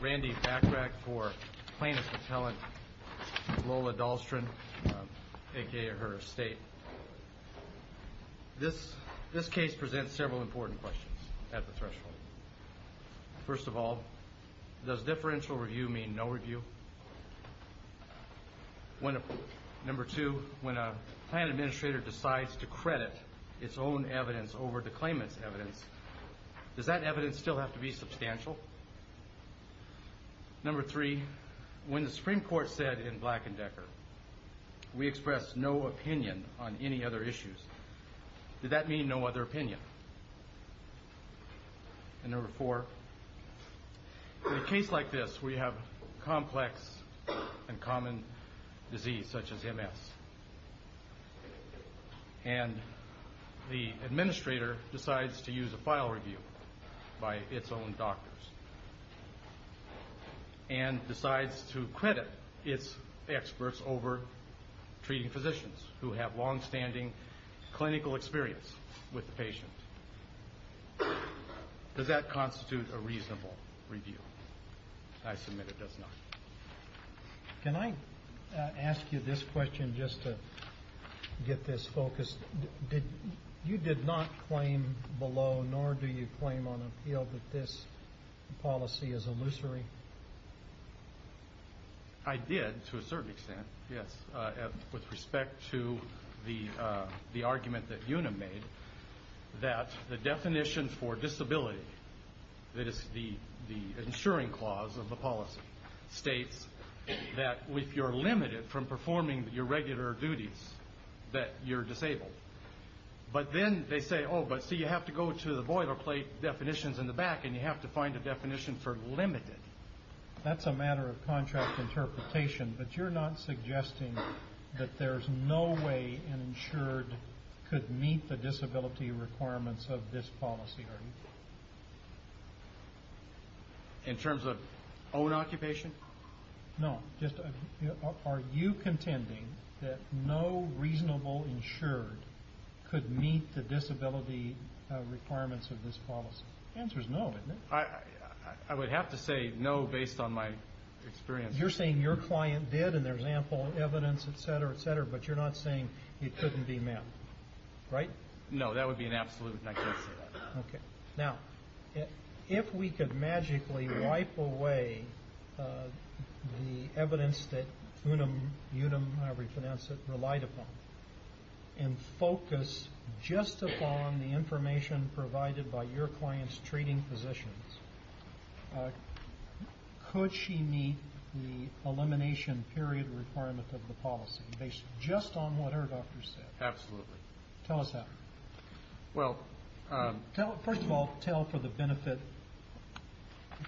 Randy Backrack for plaintiff's appellant Lola Dahlstrand a.k.a. her estate. This case presents several important questions at the threshold. First of all, does differential review mean no review? Number two, when a plan administrator decides to credit its own evidence over the claimant's evidence, does that evidence still have to be substantial? Number three, when the Supreme Court said in Black and Decker, we express no opinion on any other issues, did that mean no other opinion? And number four, in a case like this where you have complex and common disease such as MS, and the administrator decides to use a file review by its own doctors, and decides to credit its experts over treating physicians who have long-standing clinical experience with the patient, does that constitute a reasonable review? I submit it does not. Can I ask you this question just to get this focused? You did not claim below, nor do you claim on appeal that this policy is illusory? I did, to a certain extent, yes, with respect to the argument that Una made, that the definition for disability, that is the ensuring clause of the policy, states that if you're limited from performing your regular duties, that you're disabled. But then they say, oh, but see, you have to go to the boilerplate definitions in the back, and you have to find a definition for limited. That's a matter of contract interpretation, but you're not suggesting that there's no way an insured could meet the disability requirements of this policy, are you? In terms of own occupation? No, just are you contending that no reasonable insured could meet the disability requirements of this policy? The answer is no, isn't it? I would have to say no based on my experience. You're saying your client did, and there's ample evidence, et cetera, et cetera, but you're not saying it couldn't be met, right? No, that would be an absolute, and I can't say that. Okay. Now, if we could magically wipe away the evidence that Una, however you pronounce it, relied upon and focus just upon the information provided by your client's treating physicians, could she meet the elimination period requirement of the policy based just on what her doctor said? Absolutely. Tell us how. Well... First of all, tell for the benefit,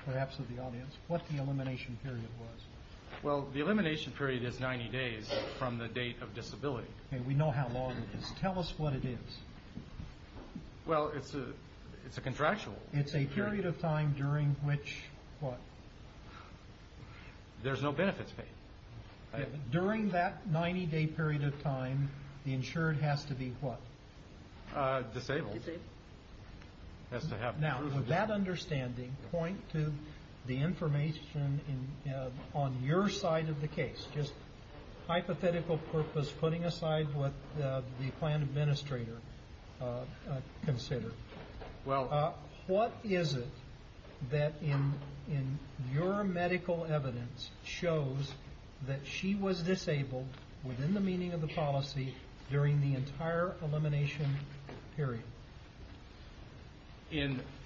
perhaps, of the audience, what the elimination period was. Well, the elimination period is 90 days from the date of disability. Okay, we know how long it is. Tell us what it is. Well, it's a contractual period. It's a period of time during which, what? There's no benefits paid. During that 90-day period of time, the insured has to be what? Disabled. Disabled. Has to have... Now, would that understanding point to the information on your side of the case? Just hypothetical purpose, putting aside what the client administrator considered. Well... What is it that in your medical evidence shows that she was disabled within the meaning of the policy during the entire elimination period?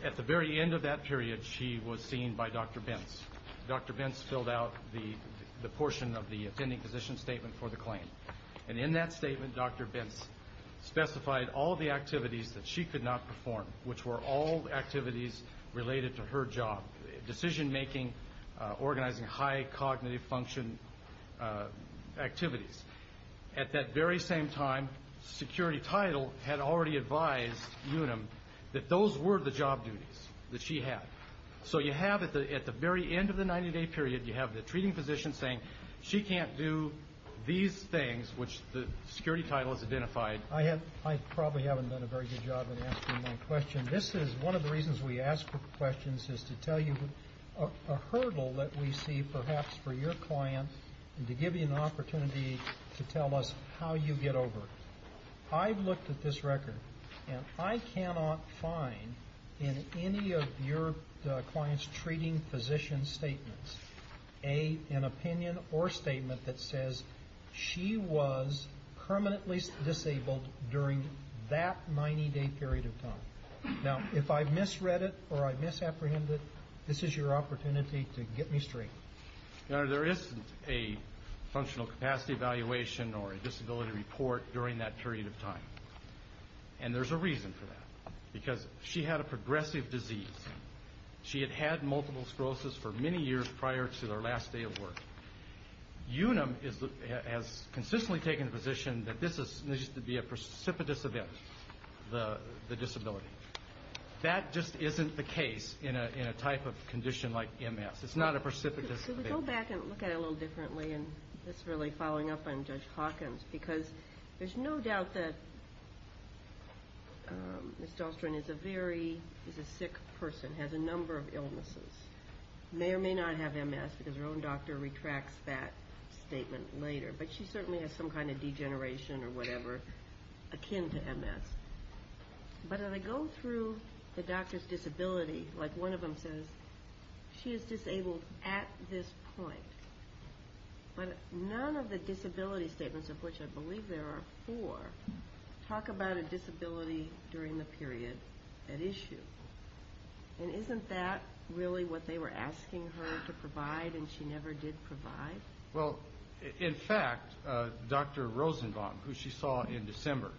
At the very end of that period, she was seen by Dr. Bentz. Dr. Bentz filled out the portion of the attending physician statement for the claim. And in that statement, Dr. Bentz specified all the activities that she could not perform, which were all activities related to her job, decision-making, organizing high cognitive function activities. At that very same time, security title had already advised Unum that those were the job duties that she had. So you have at the very end of the 90-day period, you have the treating physician saying she can't do these things, which the security title has identified. I probably haven't done a very good job in answering that question. This is one of the reasons we ask for questions is to tell you a hurdle that we see perhaps for your client and to give you an opportunity to tell us how you get over it. I've looked at this record, and I cannot find in any of your client's treating physician statements an opinion or statement that says she was permanently disabled during that 90-day period of time. Now, if I've misread it or I've misapprehended it, this is your opportunity to get me straight. Your Honor, there isn't a functional capacity evaluation or a disability report during that period of time, and there's a reason for that, because she had a progressive disease. She had had multiple sclerosis for many years prior to her last day of work. Unum has consistently taken the position that this needs to be a precipitous event, the disability. That just isn't the case in a type of condition like MS. It's not a precipitous event. Could we go back and look at it a little differently, and just really following up on Judge Hawkins, because there's no doubt that Ms. Dahlstrom is a very sick person, has a number of illnesses, may or may not have MS because her own doctor retracts that statement later, but she certainly has some kind of degeneration or whatever akin to MS. But as I go through the doctor's disability, like one of them says, she is disabled at this point, but none of the disability statements, of which I believe there are four, talk about a disability during the period at issue. And isn't that really what they were asking her to provide and she never did provide? Well, in fact, Dr. Rosenbaum, who she saw in December,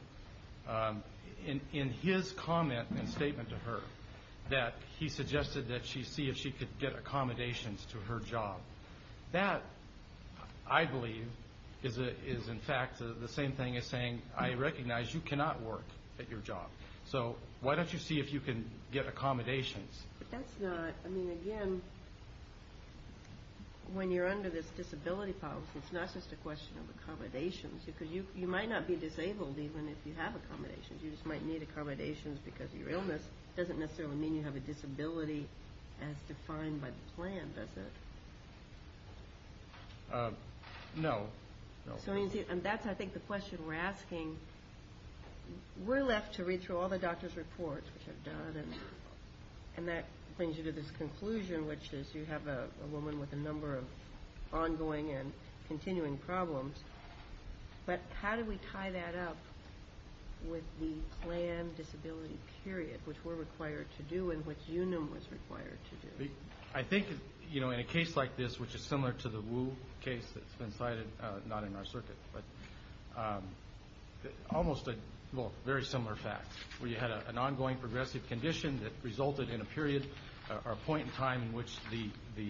in his comment and statement to her, that he suggested that she see if she could get accommodations to her job. That, I believe, is in fact the same thing as saying, I recognize you cannot work at your job, so why don't you see if you can get accommodations? But that's not, I mean, again, when you're under this disability policy, it's not just a question of accommodations, because you might not be disabled even if you have accommodations. You just might need accommodations because of your illness. It doesn't necessarily mean you have a disability as defined by the plan, does it? No. So that's, I think, the question we're asking. We're left to read through all the doctor's reports, which I've done, and that brings you to this conclusion, which is you have a woman with a number of ongoing and continuing problems. But how do we tie that up with the planned disability period, which we're required to do and which UNUM was required to do? I think, you know, in a case like this, which is similar to the Wu case that's been cited, not in our circuit, but almost a, well, very similar fact, where you had an ongoing progressive condition that resulted in a period or point in time in which the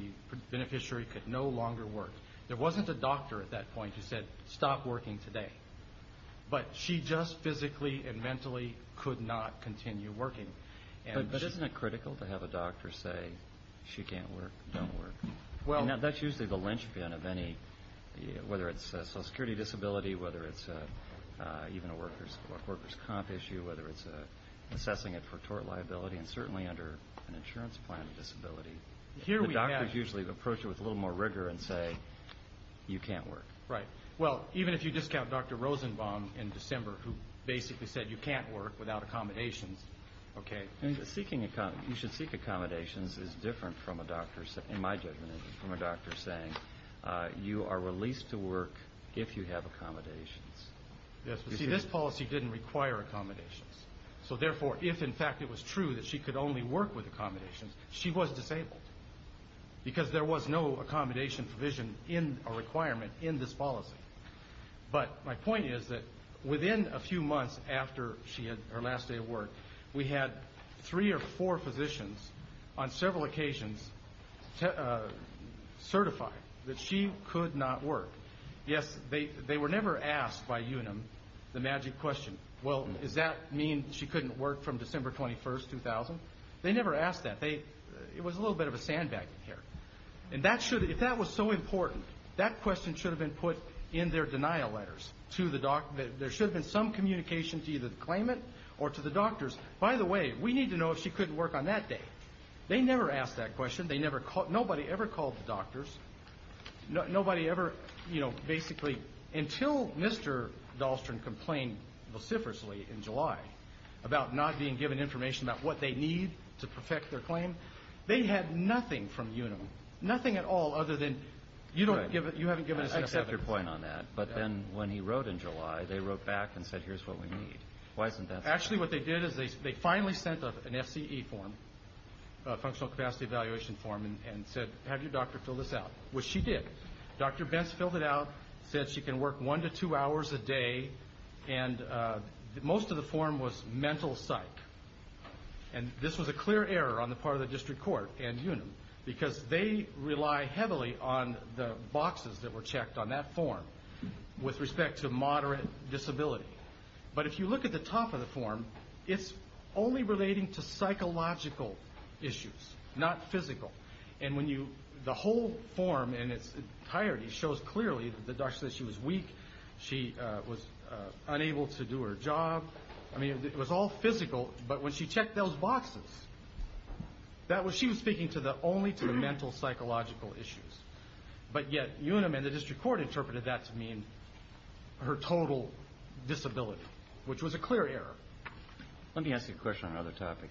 beneficiary could no longer work. There wasn't a doctor at that point who said, stop working today. But she just physically and mentally could not continue working. But isn't it critical to have a doctor say she can't work, don't work? Well, that's usually the linchpin of any, whether it's social security disability, whether it's even a workers' comp issue, whether it's assessing it for tort liability, and certainly under an insurance plan of disability. The doctors usually approach it with a little more rigor and say, you can't work. Right. Well, even if you discount Dr. Rosenbaum in December, who basically said you can't work without accommodations, okay. Seeking, you should seek accommodations is different from a doctor, in my judgment, from a doctor saying you are released to work if you have accommodations. Yes, but see, this policy didn't require accommodations. So therefore, if in fact it was true that she could only work with accommodations, she was disabled because there was no accommodation provision in a requirement in this policy. But my point is that within a few months after she had her last day of work, we had three or four physicians on several occasions certify that she could not work. Yes, they were never asked by UNM the magic question, well, does that mean she couldn't work from December 21, 2000? They never asked that. It was a little bit of a sandbag in here. And if that was so important, that question should have been put in their denial letters to the doctor. There should have been some communication to either the claimant or to the doctors. By the way, we need to know if she couldn't work on that day. They never asked that question. Nobody ever called the doctors. Nobody ever, you know, basically until Mr. Dahlstrom complained vociferously in July about not being given information about what they need to perfect their claim, they had nothing from UNM, nothing at all other than you haven't given us enough evidence. That's your point on that. But then when he wrote in July, they wrote back and said, here's what we need. Actually, what they did is they finally sent an FCE form, a functional capacity evaluation form, and said, have your doctor fill this out, which she did. Dr. Benz filled it out, said she can work one to two hours a day, and most of the form was mental psych. And this was a clear error on the part of the district court and UNM because they rely heavily on the boxes that were checked on that form with respect to moderate disability. But if you look at the top of the form, it's only relating to psychological issues, not physical. And the whole form in its entirety shows clearly that the doctor said she was weak, she was unable to do her job. I mean, it was all physical, but when she checked those boxes, she was speaking only to the mental psychological issues. But yet UNM and the district court interpreted that to mean her total disability, which was a clear error. Let me ask you a question on another topic.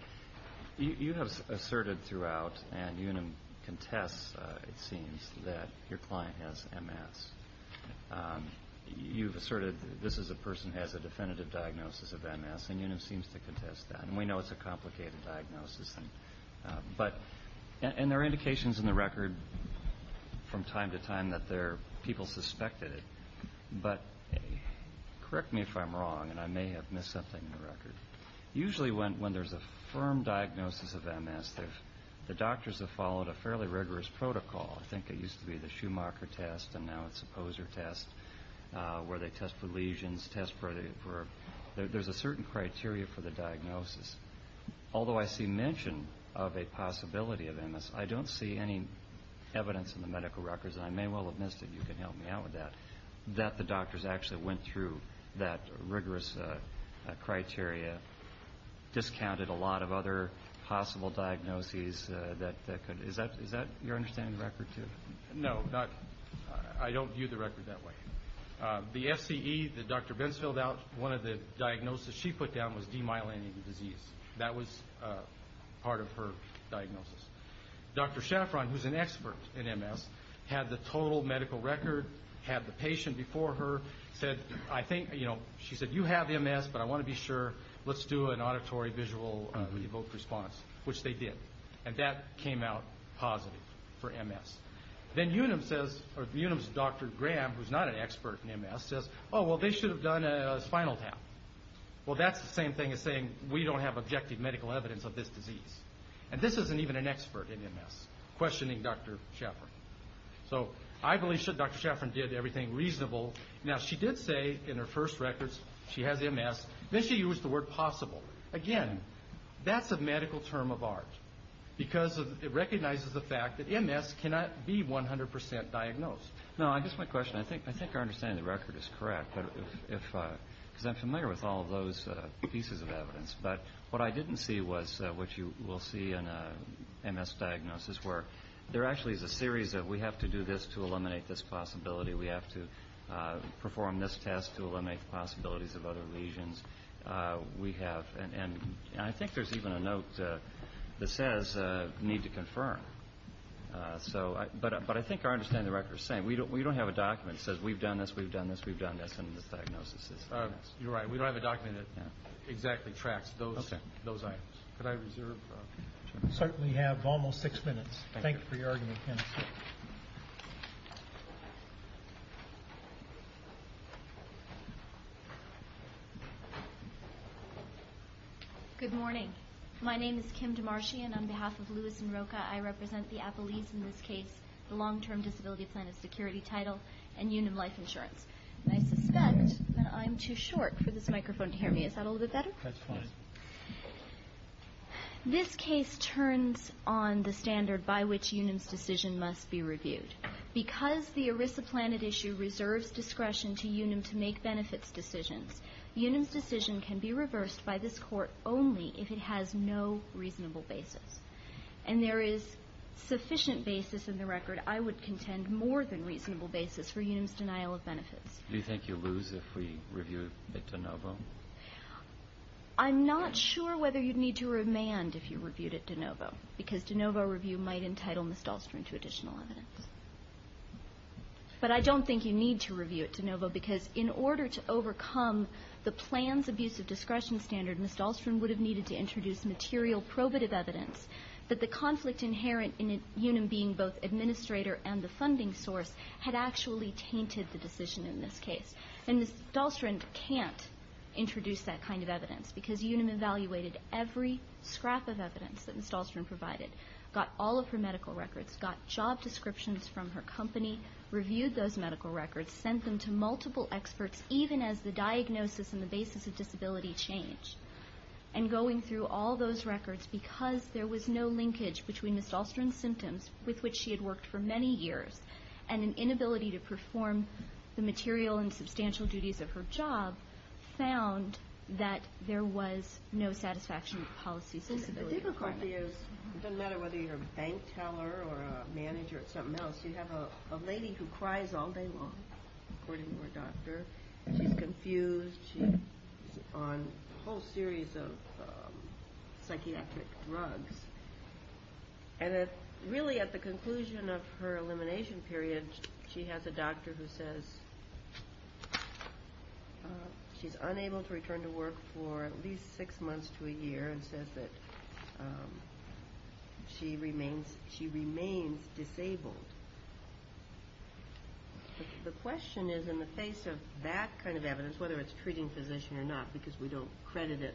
You have asserted throughout, and UNM contests, it seems, that your client has MS. You've asserted this is a person who has a definitive diagnosis of MS, and UNM seems to contest that. And we know it's a complicated diagnosis. And there are indications in the record from time to time that people suspected it. But correct me if I'm wrong, and I may have missed something in the record. Usually when there's a firm diagnosis of MS, the doctors have followed a fairly rigorous protocol. I think it used to be the Schumacher test, and now it's the Poser test, where they test for lesions, test for a... criteria for the diagnosis. Although I see mention of a possibility of MS, I don't see any evidence in the medical records, and I may well have missed it, and you can help me out with that, that the doctors actually went through that rigorous criteria, discounted a lot of other possible diagnoses that could... Is that your understanding of the record, too? No, I don't view the record that way. The FCE that Dr. Benz filled out, one of the diagnoses she put down was demyelinating disease. That was part of her diagnosis. Dr. Schaffron, who's an expert in MS, had the total medical record, had the patient before her, said, I think, you know, she said, you have MS, but I want to be sure. Let's do an auditory visual evoked response, which they did. And that came out positive for MS. Then Unum says, or Unum's Dr. Graham, who's not an expert in MS, says, oh, well, they should have done a spinal tap. Well, that's the same thing as saying we don't have objective medical evidence of this disease. And this isn't even an expert in MS, questioning Dr. Schaffron. So I believe Dr. Schaffron did everything reasonable. Now, she did say in her first records she has MS. Then she used the word possible. Again, that's a medical term of art because it recognizes the fact that MS cannot be 100% diagnosed. No, I guess my question, I think our understanding of the record is correct, because I'm familiar with all of those pieces of evidence. But what I didn't see was what you will see in a MS diagnosis, where there actually is a series of we have to do this to eliminate this possibility. We have to perform this test to eliminate the possibilities of other lesions. And I think there's even a note that says need to confirm. But I think our understanding of the record is the same. We don't have a document that says we've done this, we've done this, we've done this, and this diagnosis is MS. You're right. We don't have a document that exactly tracks those items. Could I reserve? Thank you for your argument, Kenneth. Good morning. My name is Kim Demarchian. On behalf of Lewis and Roca, I represent the Appellees in this case, the Long-Term Disability Plan of Security title, and Unum Life Insurance. And I suspect that I'm too short for this microphone to hear me. Is that a little bit better? That's fine. This case turns on the standard by which Unum's decision must be reviewed. Because the ERISA Planet issue reserves discretion to Unum to make benefits decisions, Unum's decision can be reversed by this Court only if it has no reasonable basis. And there is sufficient basis in the record. I would contend more than reasonable basis for Unum's denial of benefits. Do you think you'll lose if we review it at De Novo? I'm not sure whether you'd need to remand if you reviewed it at De Novo, because De Novo review might entitle Ms. Dahlstrom to additional evidence. But I don't think you need to review it at De Novo, because in order to overcome the plan's abusive discretion standard, Ms. Dahlstrom would have needed to introduce material probative evidence. But the conflict inherent in Unum being both administrator and the funding source had actually tainted the decision in this case. And Ms. Dahlstrom can't introduce that kind of evidence, because Unum evaluated every scrap of evidence that Ms. Dahlstrom provided, got all of her medical records, got job descriptions from her company, reviewed those medical records, sent them to multiple experts, even as the diagnosis and the basis of disability changed. And going through all those records, because there was no linkage between Ms. Dahlstrom's symptoms, with which she had worked for many years, and an inability to perform the material and substantial duties of her job, found that there was no satisfaction with policy's disability. The difficulty is it doesn't matter whether you're a bank teller or a manager or something else, you have a lady who cries all day long, according to her doctor. She's confused, she's on a whole series of psychiatric drugs. And really at the conclusion of her elimination period, she has a doctor who says she's unable to return to work for at least six months to a year, and says that she remains disabled. The question is, in the face of that kind of evidence, whether it's treating physician or not, because we don't credit it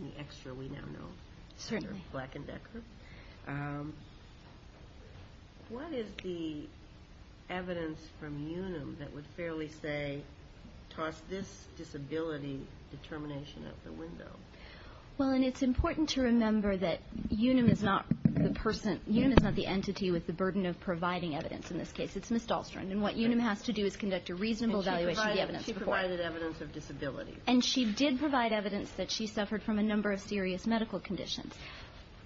any extra, we now know, Black and Decker, what is the evidence from Unum that would fairly say, toss this disability determination out the window? Well, and it's important to remember that Unum is not the person, Unum is not the entity with the burden of providing evidence in this case. It's Ms. Dahlstrom. And what Unum has to do is conduct a reasonable evaluation of the evidence. And she provided evidence of disability. And she did provide evidence that she suffered from a number of serious medical conditions.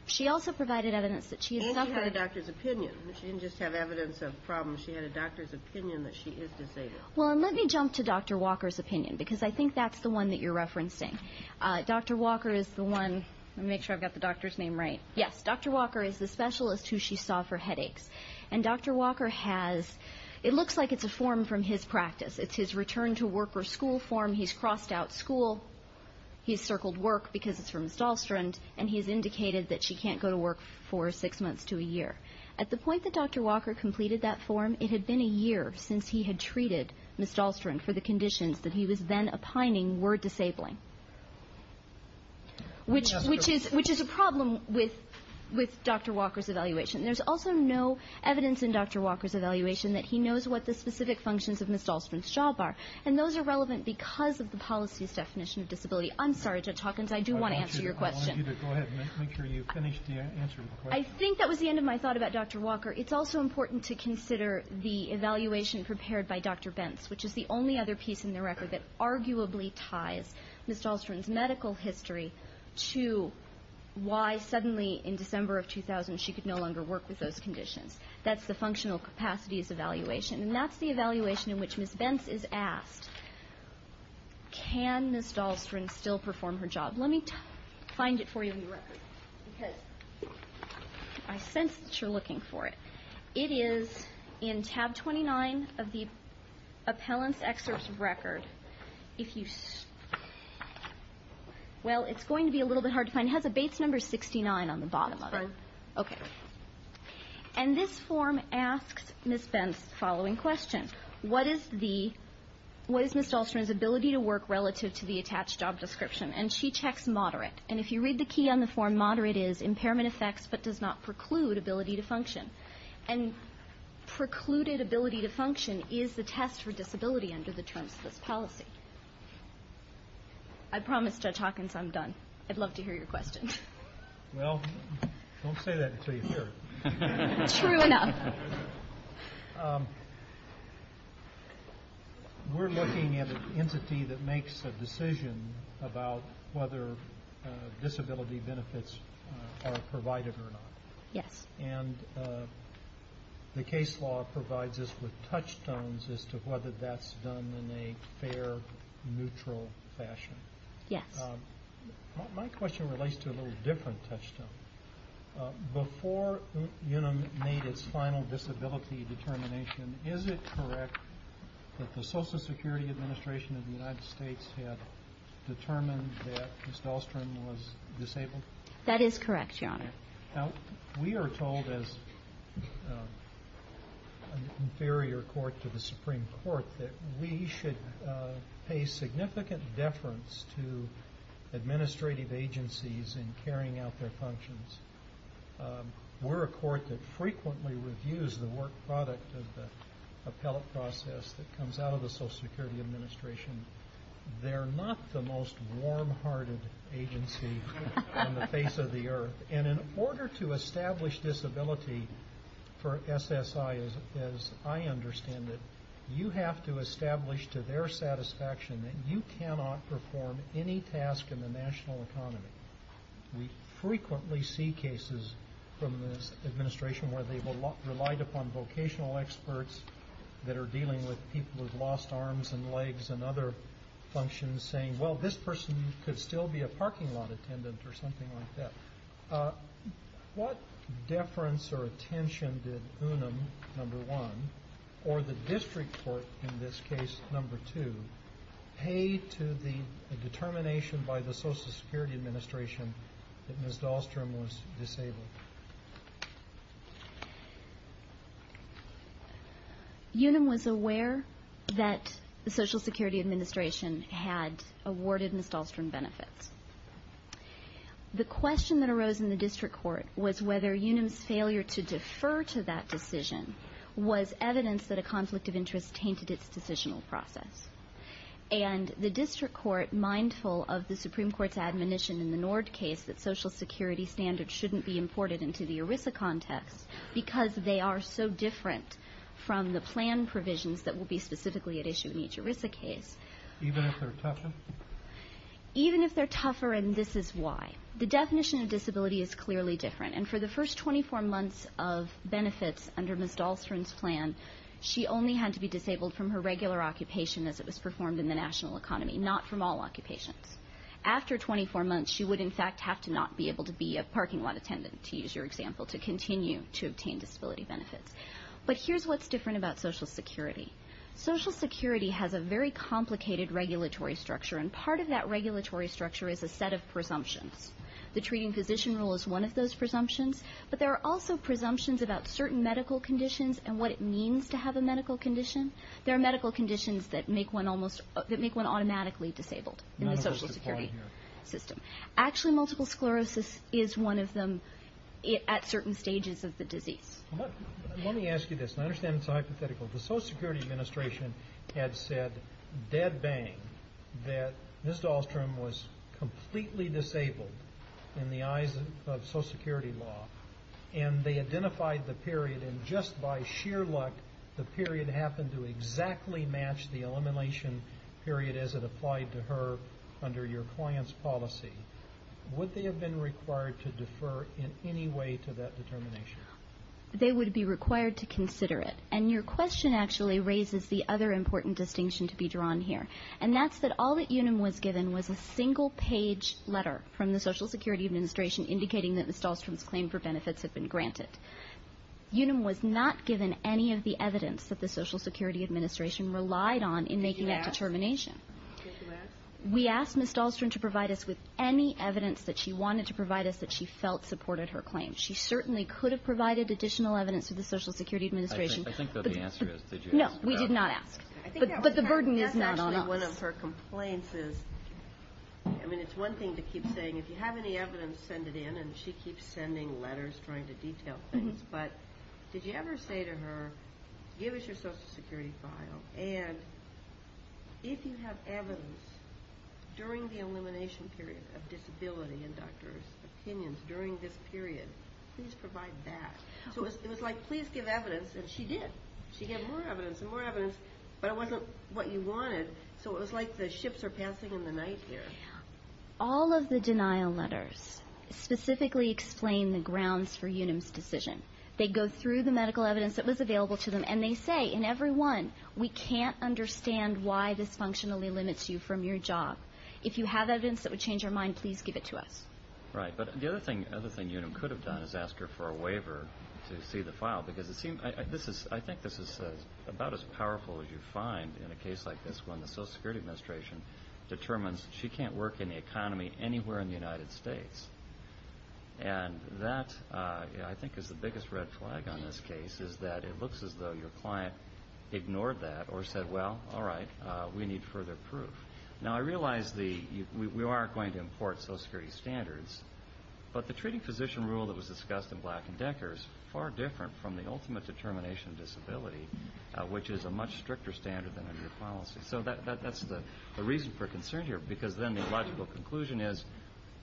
She also provided evidence that she had suffered. And she had a doctor's opinion. She didn't just have evidence of problems. She had a doctor's opinion that she is disabled. Well, and let me jump to Dr. Walker's opinion, because I think that's the one that you're referencing. Dr. Walker is the one, let me make sure I've got the doctor's name right. Yes, Dr. Walker is the specialist who she saw for headaches. And Dr. Walker has, it looks like it's a form from his practice. It's his return to work or school form. He's crossed out school. He's circled work because it's for Ms. Dahlstrom. And he's indicated that she can't go to work for six months to a year. At the point that Dr. Walker completed that form, it had been a year since he had treated Ms. Dahlstrom for the conditions that he was then opining were disabling. Which is a problem with Dr. Walker's evaluation. There's also no evidence in Dr. Walker's evaluation that he knows what the specific functions of Ms. Dahlstrom's job are. And those are relevant because of the policy's definition of disability. I'm sorry, Judge Hawkins, I do want to answer your question. I want you to go ahead and make sure you've finished answering the question. I think that was the end of my thought about Dr. Walker. It's also important to consider the evaluation prepared by Dr. Bentz, which is the only other piece in the record that arguably ties Ms. Dahlstrom's medical history to why suddenly in December of 2000 she could no longer work with those conditions. That's the functional capacities evaluation. And that's the evaluation in which Ms. Bentz is asked, can Ms. Dahlstrom still perform her job? Let me find it for you in the record. Because I sense that you're looking for it. It is in tab 29 of the appellant's excerpt of record. Well, it's going to be a little bit hard to find. It has a Bates number 69 on the bottom of it. That's right. Okay. And this form asks Ms. Bentz the following question. What is Ms. Dahlstrom's ability to work relative to the attached job description? And she checks moderate. And if you read the key on the form, moderate is impairment effects but does not preclude ability to function. And precluded ability to function is the test for disability under the terms of this policy. I promise, Judge Hawkins, I'm done. I'd love to hear your questions. Well, don't say that until you hear it. True enough. We're looking at an entity that makes a decision about whether disability benefits are provided or not. Yes. And the case law provides us with touchstones as to whether that's done in a fair, neutral fashion. Yes. My question relates to a little different touchstone. Before UNAM made its final disability determination, is it correct that the Social Security Administration of the United States had determined that Ms. Dahlstrom was disabled? We are told as an inferior court to the Supreme Court that we should pay significant deference to administrative agencies in carrying out their functions. We're a court that frequently reviews the work product of the appellate process that comes out of the Social Security Administration. They're not the most warm-hearted agency on the face of the earth. And in order to establish disability for SSI, as I understand it, you have to establish to their satisfaction that you cannot perform any task in the national economy. We frequently see cases from this administration where they've relied upon vocational experts that are dealing with people with lost arms and legs and other functions saying, well, this person could still be a parking lot attendant or something like that. What deference or attention did UNAM, number one, or the district court, in this case, number two, pay to the determination by the Social Security Administration that Ms. Dahlstrom was disabled? UNAM was aware that the Social Security Administration had awarded Ms. Dahlstrom benefits. The question that arose in the district court was whether UNAM's failure to defer to that decision was evidence that a conflict of interest tainted its decisional process. And the district court, mindful of the Supreme Court's admonition in the Nord case that Social Security standards shouldn't be imported into the ERISA context because they are so different from the plan provisions that will be specifically at issue in each ERISA case. Even if they're tougher? Even if they're tougher, and this is why. The definition of disability is clearly different. And for the first 24 months of benefits under Ms. Dahlstrom's plan, she only had to be disabled from her regular occupation as it was performed in the national economy, not from all occupations. After 24 months, she would, in fact, have to not be able to be a parking lot attendant, to use your example, to continue to obtain disability benefits. But here's what's different about Social Security. Social Security has a very complicated regulatory structure, and part of that regulatory structure is a set of presumptions. The treating physician rule is one of those presumptions, but there are also presumptions about certain medical conditions and what it means to have a medical condition. There are medical conditions that make one automatically disabled in the Social Security system. Actually, multiple sclerosis is one of them at certain stages of the disease. Let me ask you this, and I understand it's a hypothetical. The Social Security Administration had said, dead bang, that Ms. Dahlstrom was completely disabled in the eyes of Social Security law, and they identified the period, and just by sheer luck, the period happened to exactly match the elimination period as it applied to her under your client's policy. Would they have been required to defer in any way to that determination? They would be required to consider it. And your question actually raises the other important distinction to be drawn here, and that's that all that UNUM was given was a single-page letter from the Social Security Administration indicating that Ms. Dahlstrom's claim for benefits had been granted. UNUM was not given any of the evidence that the Social Security Administration relied on in making that determination. We asked Ms. Dahlstrom to provide us with any evidence that she wanted to provide us that she felt supported her claim. She certainly could have provided additional evidence to the Social Security Administration. I think that the answer is, did you ask her? No, we did not ask, but the burden is not on us. I think that's actually one of her complaints is, I mean, it's one thing to keep saying, if you have any evidence, send it in, and she keeps sending letters trying to detail things, but did you ever say to her, give us your Social Security file, and if you have evidence during the elimination period of disability in doctors' opinions during this period, please provide that. So it was like, please give evidence, and she did. She gave more evidence and more evidence, but it wasn't what you wanted, so it was like the ships are passing in the night here. All of the denial letters specifically explain the grounds for UNUM's decision. They go through the medical evidence that was available to them, and they say in every one, we can't understand why this functionally limits you from your job. If you have evidence that would change your mind, please give it to us. Right, but the other thing UNUM could have done is ask her for a waiver to see the file, because I think this is about as powerful as you find in a case like this when the Social Security Administration determines she can't work in the economy anywhere in the United States. And that, I think, is the biggest red flag on this case, is that it looks as though your client ignored that or said, well, all right, we need further proof. Now, I realize we are going to import Social Security standards, but the treating physician rule that was discussed in Black & Decker is far different from the ultimate determination of disability, which is a much stricter standard than a new policy. So that's the reason for concern here, because then the logical conclusion is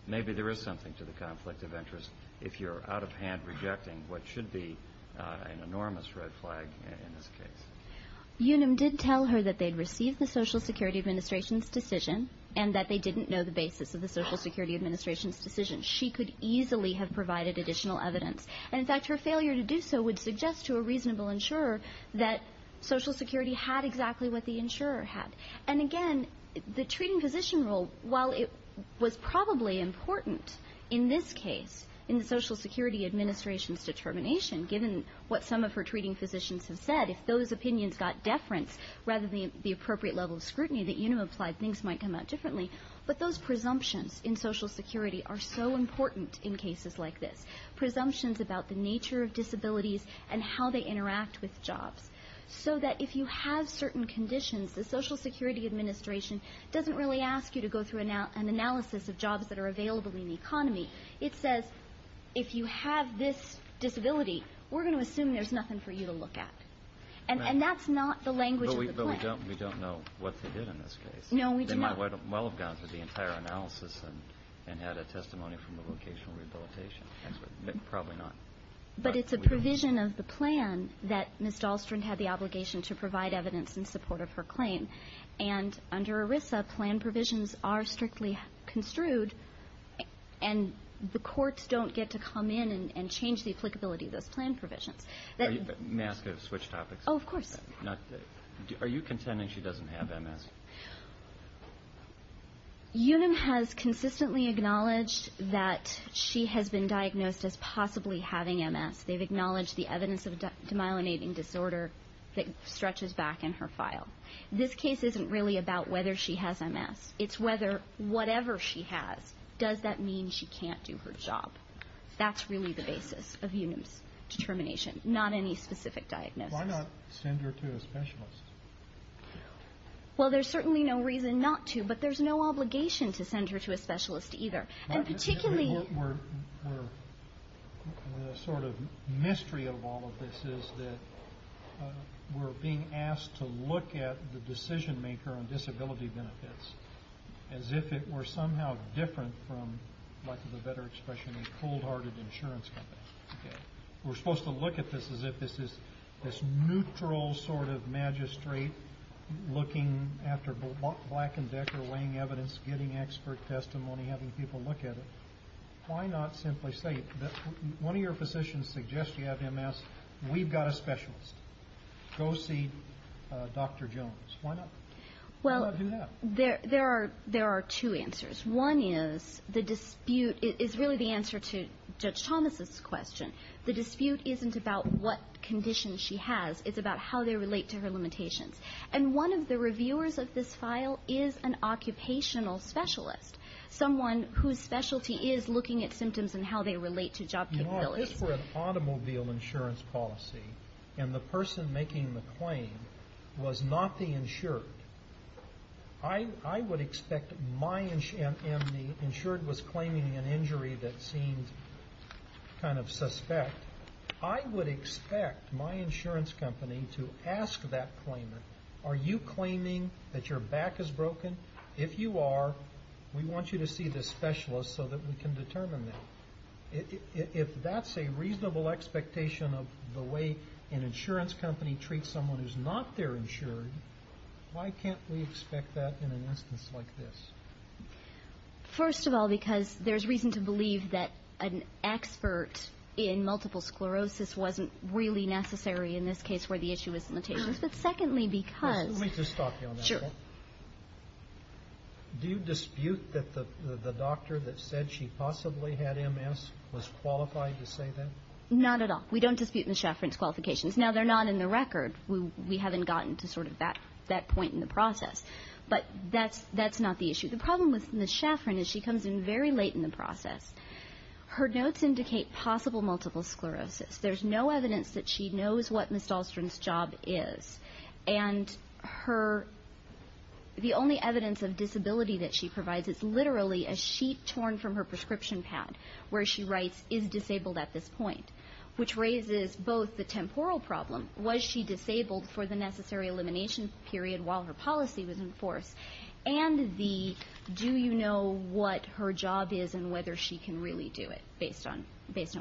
maybe there is something to the conflict of interest if you're out of hand rejecting what should be an enormous red flag in this case. UNUM did tell her that they'd received the Social Security Administration's decision and that they didn't know the basis of the Social Security Administration's decision. She could easily have provided additional evidence. And, in fact, her failure to do so would suggest to a reasonable insurer that Social Security had exactly what the insurer had. And, again, the treating physician rule, while it was probably important in this case, in the Social Security Administration's determination, given what some of her treating physicians have said, if those opinions got deference rather than the appropriate level of scrutiny that UNUM applied, things might come out differently. But those presumptions in Social Security are so important in cases like this, presumptions about the nature of disabilities and how they interact with jobs, so that if you have certain conditions, the Social Security Administration doesn't really ask you to go through an analysis of jobs that are available in the economy. It says, if you have this disability, we're going to assume there's nothing for you to look at. And that's not the language of the plan. But we don't know what they did in this case. No, we do not. They might well have gone through the entire analysis and had a testimony from the vocational rehabilitation expert. Probably not. But it's a provision of the plan that Ms. Dahlstrand had the obligation to provide evidence in support of her claim. And under ERISA, plan provisions are strictly construed. And the courts don't get to come in and change the applicability of those plan provisions. May I ask a switch topic? Oh, of course. Are you contending she doesn't have MS? UNUM has consistently acknowledged that she has been diagnosed as possibly having MS. They've acknowledged the evidence of demyelinating disorder that stretches back in her file. This case isn't really about whether she has MS. It's whether whatever she has, does that mean she can't do her job? That's really the basis of UNUM's determination. Not any specific diagnosis. Why not send her to a specialist? Well, there's certainly no reason not to, but there's no obligation to send her to a specialist either. And particularly we're the sort of mystery of all of this is that we're being asked to look at the decision maker on disability benefits as if it were somehow different from, for lack of a better expression, a cold-hearted insurance company. We're supposed to look at this as if this is this neutral sort of magistrate looking after black and decker weighing evidence, getting expert testimony, having people look at it. Why not simply say that one of your physicians suggests you have MS. We've got a specialist. Go see Dr. Jones. Why not do that? Well, there are two answers. One is the dispute is really the answer to Judge Thomas' question. The dispute isn't about what condition she has. It's about how they relate to her limitations. And one of the reviewers of this file is an occupational specialist, someone whose specialty is looking at symptoms and how they relate to job capabilities. If this were an automobile insurance policy and the person making the claim was not the insured, I would expect my insured was claiming an injury that seems kind of suspect. I would expect my insurance company to ask that claimant, are you claiming that your back is broken? If you are, we want you to see this specialist so that we can determine that. If that's a reasonable expectation of the way an insurance company treats someone who's not their insured, why can't we expect that in an instance like this? First of all, because there's reason to believe that an expert in multiple sclerosis wasn't really necessary in this case where the issue was limitations. But secondly, because – Let me just stop you on that one. Sure. Do you dispute that the doctor that said she possibly had MS was qualified to say that? Not at all. We don't dispute Ms. Schaffrin's qualifications. Now, they're not in the record. We haven't gotten to sort of that point in the process. But that's not the issue. The problem with Ms. Schaffrin is she comes in very late in the process. Her notes indicate possible multiple sclerosis. There's no evidence that she knows what Ms. Dahlstrom's job is. And the only evidence of disability that she provides is literally a sheet torn from her prescription pad where she writes, is disabled at this point, which raises both the temporal problem, was she disabled for the necessary elimination period while her policy was in force, and the do you know what her job is and whether she can really do it based on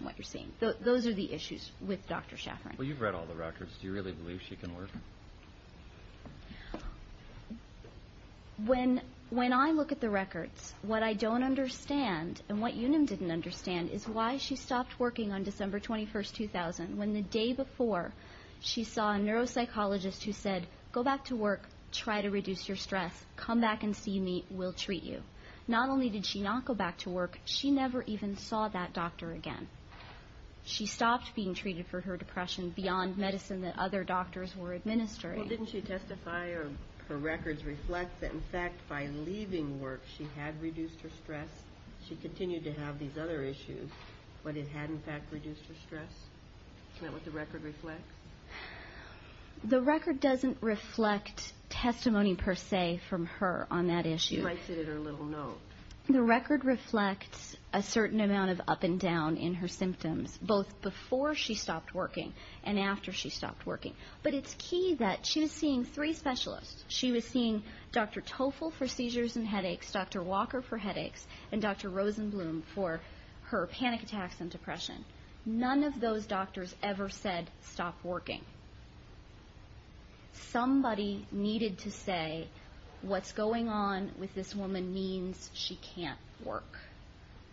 what you're saying. Those are the issues with Dr. Schaffrin. Well, you've read all the records. Do you really believe she can work? When I look at the records, what I don't understand and what Eunim didn't understand is why she stopped working on December 21, 2000, when the day before she saw a neuropsychologist who said, go back to work, try to reduce your stress, come back and see me, we'll treat you. Not only did she not go back to work, she never even saw that doctor again. She stopped being treated for her depression beyond medicine that other doctors were administering. Well, didn't she testify or her records reflect that, in fact, by leaving work she had reduced her stress? She continued to have these other issues, but it had, in fact, reduced her stress? Isn't that what the record reflects? The record doesn't reflect testimony per se from her on that issue. She writes it in her little note. The record reflects a certain amount of up and down in her symptoms, both before she stopped working and after she stopped working. But it's key that she was seeing three specialists. She was seeing Dr. Toffel for seizures and headaches, Dr. Walker for headaches, and Dr. Rosenblum for her panic attacks and depression. None of those doctors ever said, stop working. Somebody needed to say, what's going on with this woman means she can't work.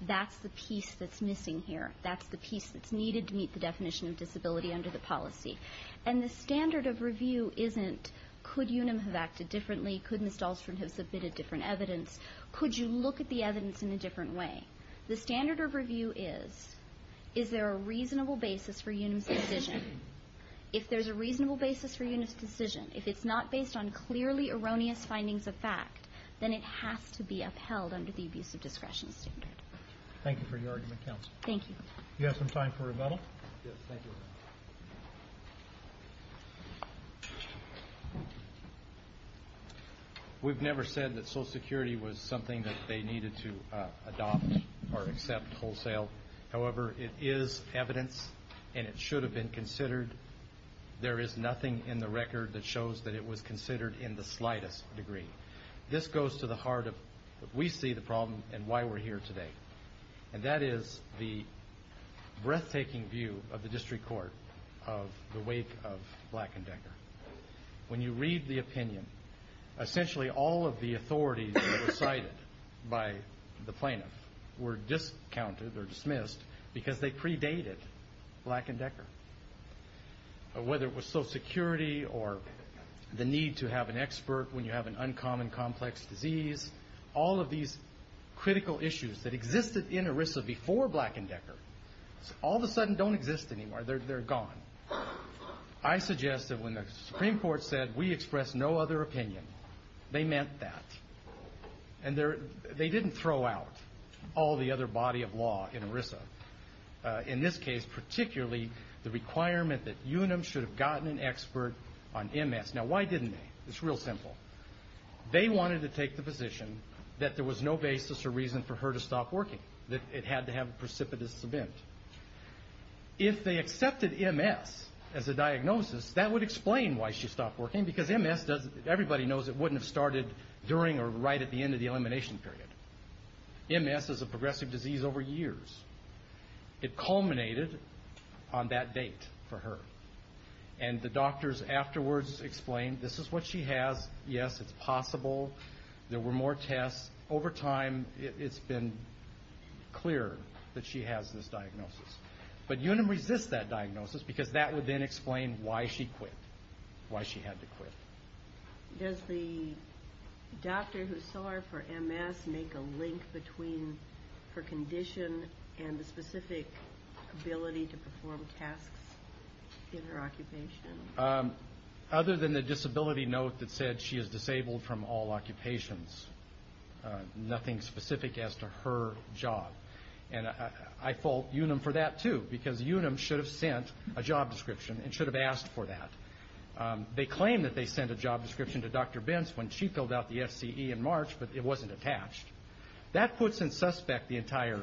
That's the piece that's missing here. That's the piece that's needed to meet the definition of disability under the policy. And the standard of review isn't, could Unum have acted differently? Could Ms. Dahlstrom have submitted different evidence? Could you look at the evidence in a different way? The standard of review is, is there a reasonable basis for Unum's decision? If there's a reasonable basis for Unum's decision, if it's not based on clearly erroneous findings of fact, then it has to be upheld under the abusive discretion standard. Thank you for your argument, counsel. Thank you. Do you have some time for rebuttal? Yes, thank you. We've never said that Social Security was something that they needed to adopt or accept wholesale. However, it is evidence and it should have been considered. There is nothing in the record that shows that it was considered in the slightest degree. This goes to the heart of what we see the problem and why we're here today. And that is the breathtaking view of the district court of the wake of Black and Decker. When you read the opinion, essentially all of the authorities that were cited by the plaintiff were discounted or dismissed because they predated Black and Decker. Whether it was Social Security or the need to have an expert when you have an uncommon complex disease, all of these critical issues that existed in ERISA before Black and Decker, all of a sudden don't exist anymore. They're gone. I suggest that when the Supreme Court said, we express no other opinion, they meant that. And they didn't throw out all the other body of law in ERISA. In this case, particularly the requirement that UNM should have gotten an expert on MS. Now, why didn't they? It's real simple. They wanted to take the position that there was no basis or reason for her to stop working, that it had to have a precipitous event. If they accepted MS as a diagnosis, that would explain why she stopped working because everybody knows it wouldn't have started during or right at the end of the elimination period. MS is a progressive disease over years. It culminated on that date for her. And the doctors afterwards explained, this is what she has. Yes, it's possible. There were more tests. Over time, it's been clear that she has this diagnosis. But UNM resists that diagnosis because that would then explain why she quit, why she had to quit. Does the doctor who saw her for MS make a link between her condition and the specific ability to perform tasks in her occupation? Other than the disability note that said she is disabled from all occupations, nothing specific as to her job. And I fault UNM for that, too, because UNM should have sent a job description and should have asked for that. They claim that they sent a job description to Dr. Benz when she filled out the FCE in March, but it wasn't attached. That puts in suspect the entire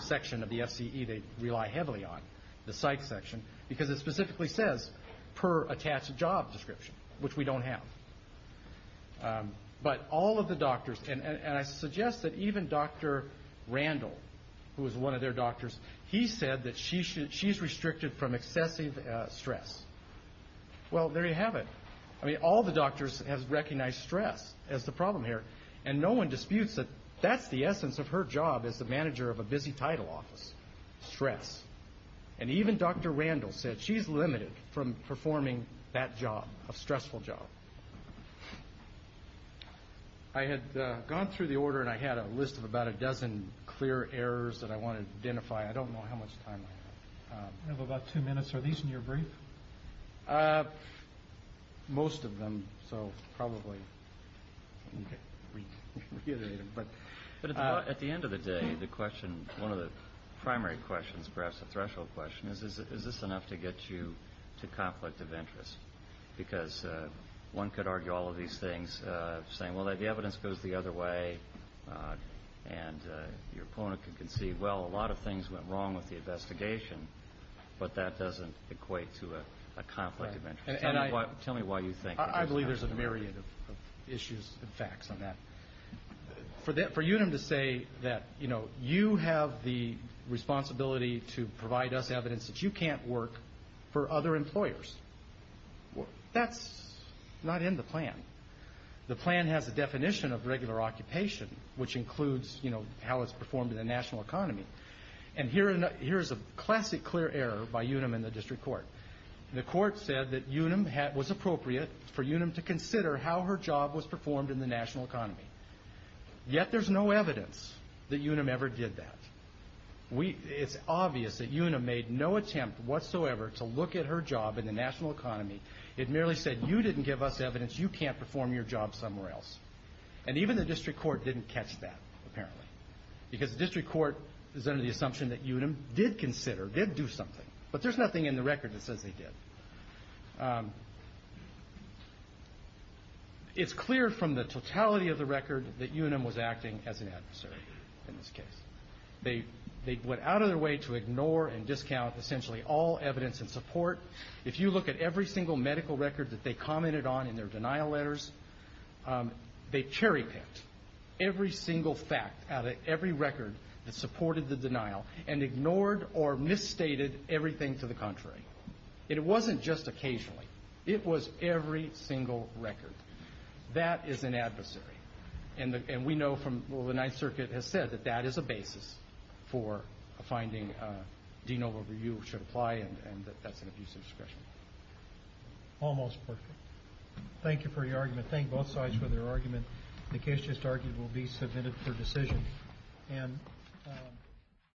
section of the FCE they rely heavily on, the psych section, because it specifically says, per attached job description, which we don't have. But all of the doctors, and I suggest that even Dr. Randall, who was one of their doctors, he said that she's restricted from excessive stress. Well, there you have it. I mean, all the doctors have recognized stress as the problem here, and no one disputes that that's the essence of her job as the manager of a busy title office, stress. And even Dr. Randall said she's limited from performing that job, a stressful job. I had gone through the order, and I had a list of about a dozen clear errors that I wanted to identify. I don't know how much time I have. We have about two minutes. Are these in your brief? Most of them, so probably. But at the end of the day, the question, one of the primary questions, perhaps a threshold question, is this enough to get you to conflict of interest? Because one could argue all of these things, saying, well, the evidence goes the other way, and your opponent could concede, well, a lot of things went wrong with the investigation, but that doesn't equate to a conflict of interest. Tell me why you think that. I believe there's a myriad of issues and facts on that. For UNUM to say that you have the responsibility to provide us evidence that you can't work for other employers, that's not in the plan. The plan has a definition of regular occupation, which includes how it's performed in the national economy. And here's a classic clear error by UNUM in the district court. The court said that UNUM was appropriate for UNUM to consider how her job was performed in the national economy. Yet there's no evidence that UNUM ever did that. It's obvious that UNUM made no attempt whatsoever to look at her job in the national economy. It merely said, you didn't give us evidence, you can't perform your job somewhere else. And even the district court didn't catch that, apparently, because the district court is under the assumption that UNUM did consider, did do something. But there's nothing in the record that says they did. It's clear from the totality of the record that UNUM was acting as an adversary in this case. They went out of their way to ignore and discount essentially all evidence and support. If you look at every single medical record that they commented on in their denial letters, they cherry-picked every single fact out of every record that supported the denial and ignored or misstated everything to the contrary. It wasn't just occasionally. It was every single record. That is an adversary. And we know from what the Ninth Circuit has said that that is a basis for finding, do you know whether you should apply and that's an abusive discretion. Almost perfect. Thank you for your argument. Thank both sides for their argument. The case just argued will be submitted for decision. Thank you.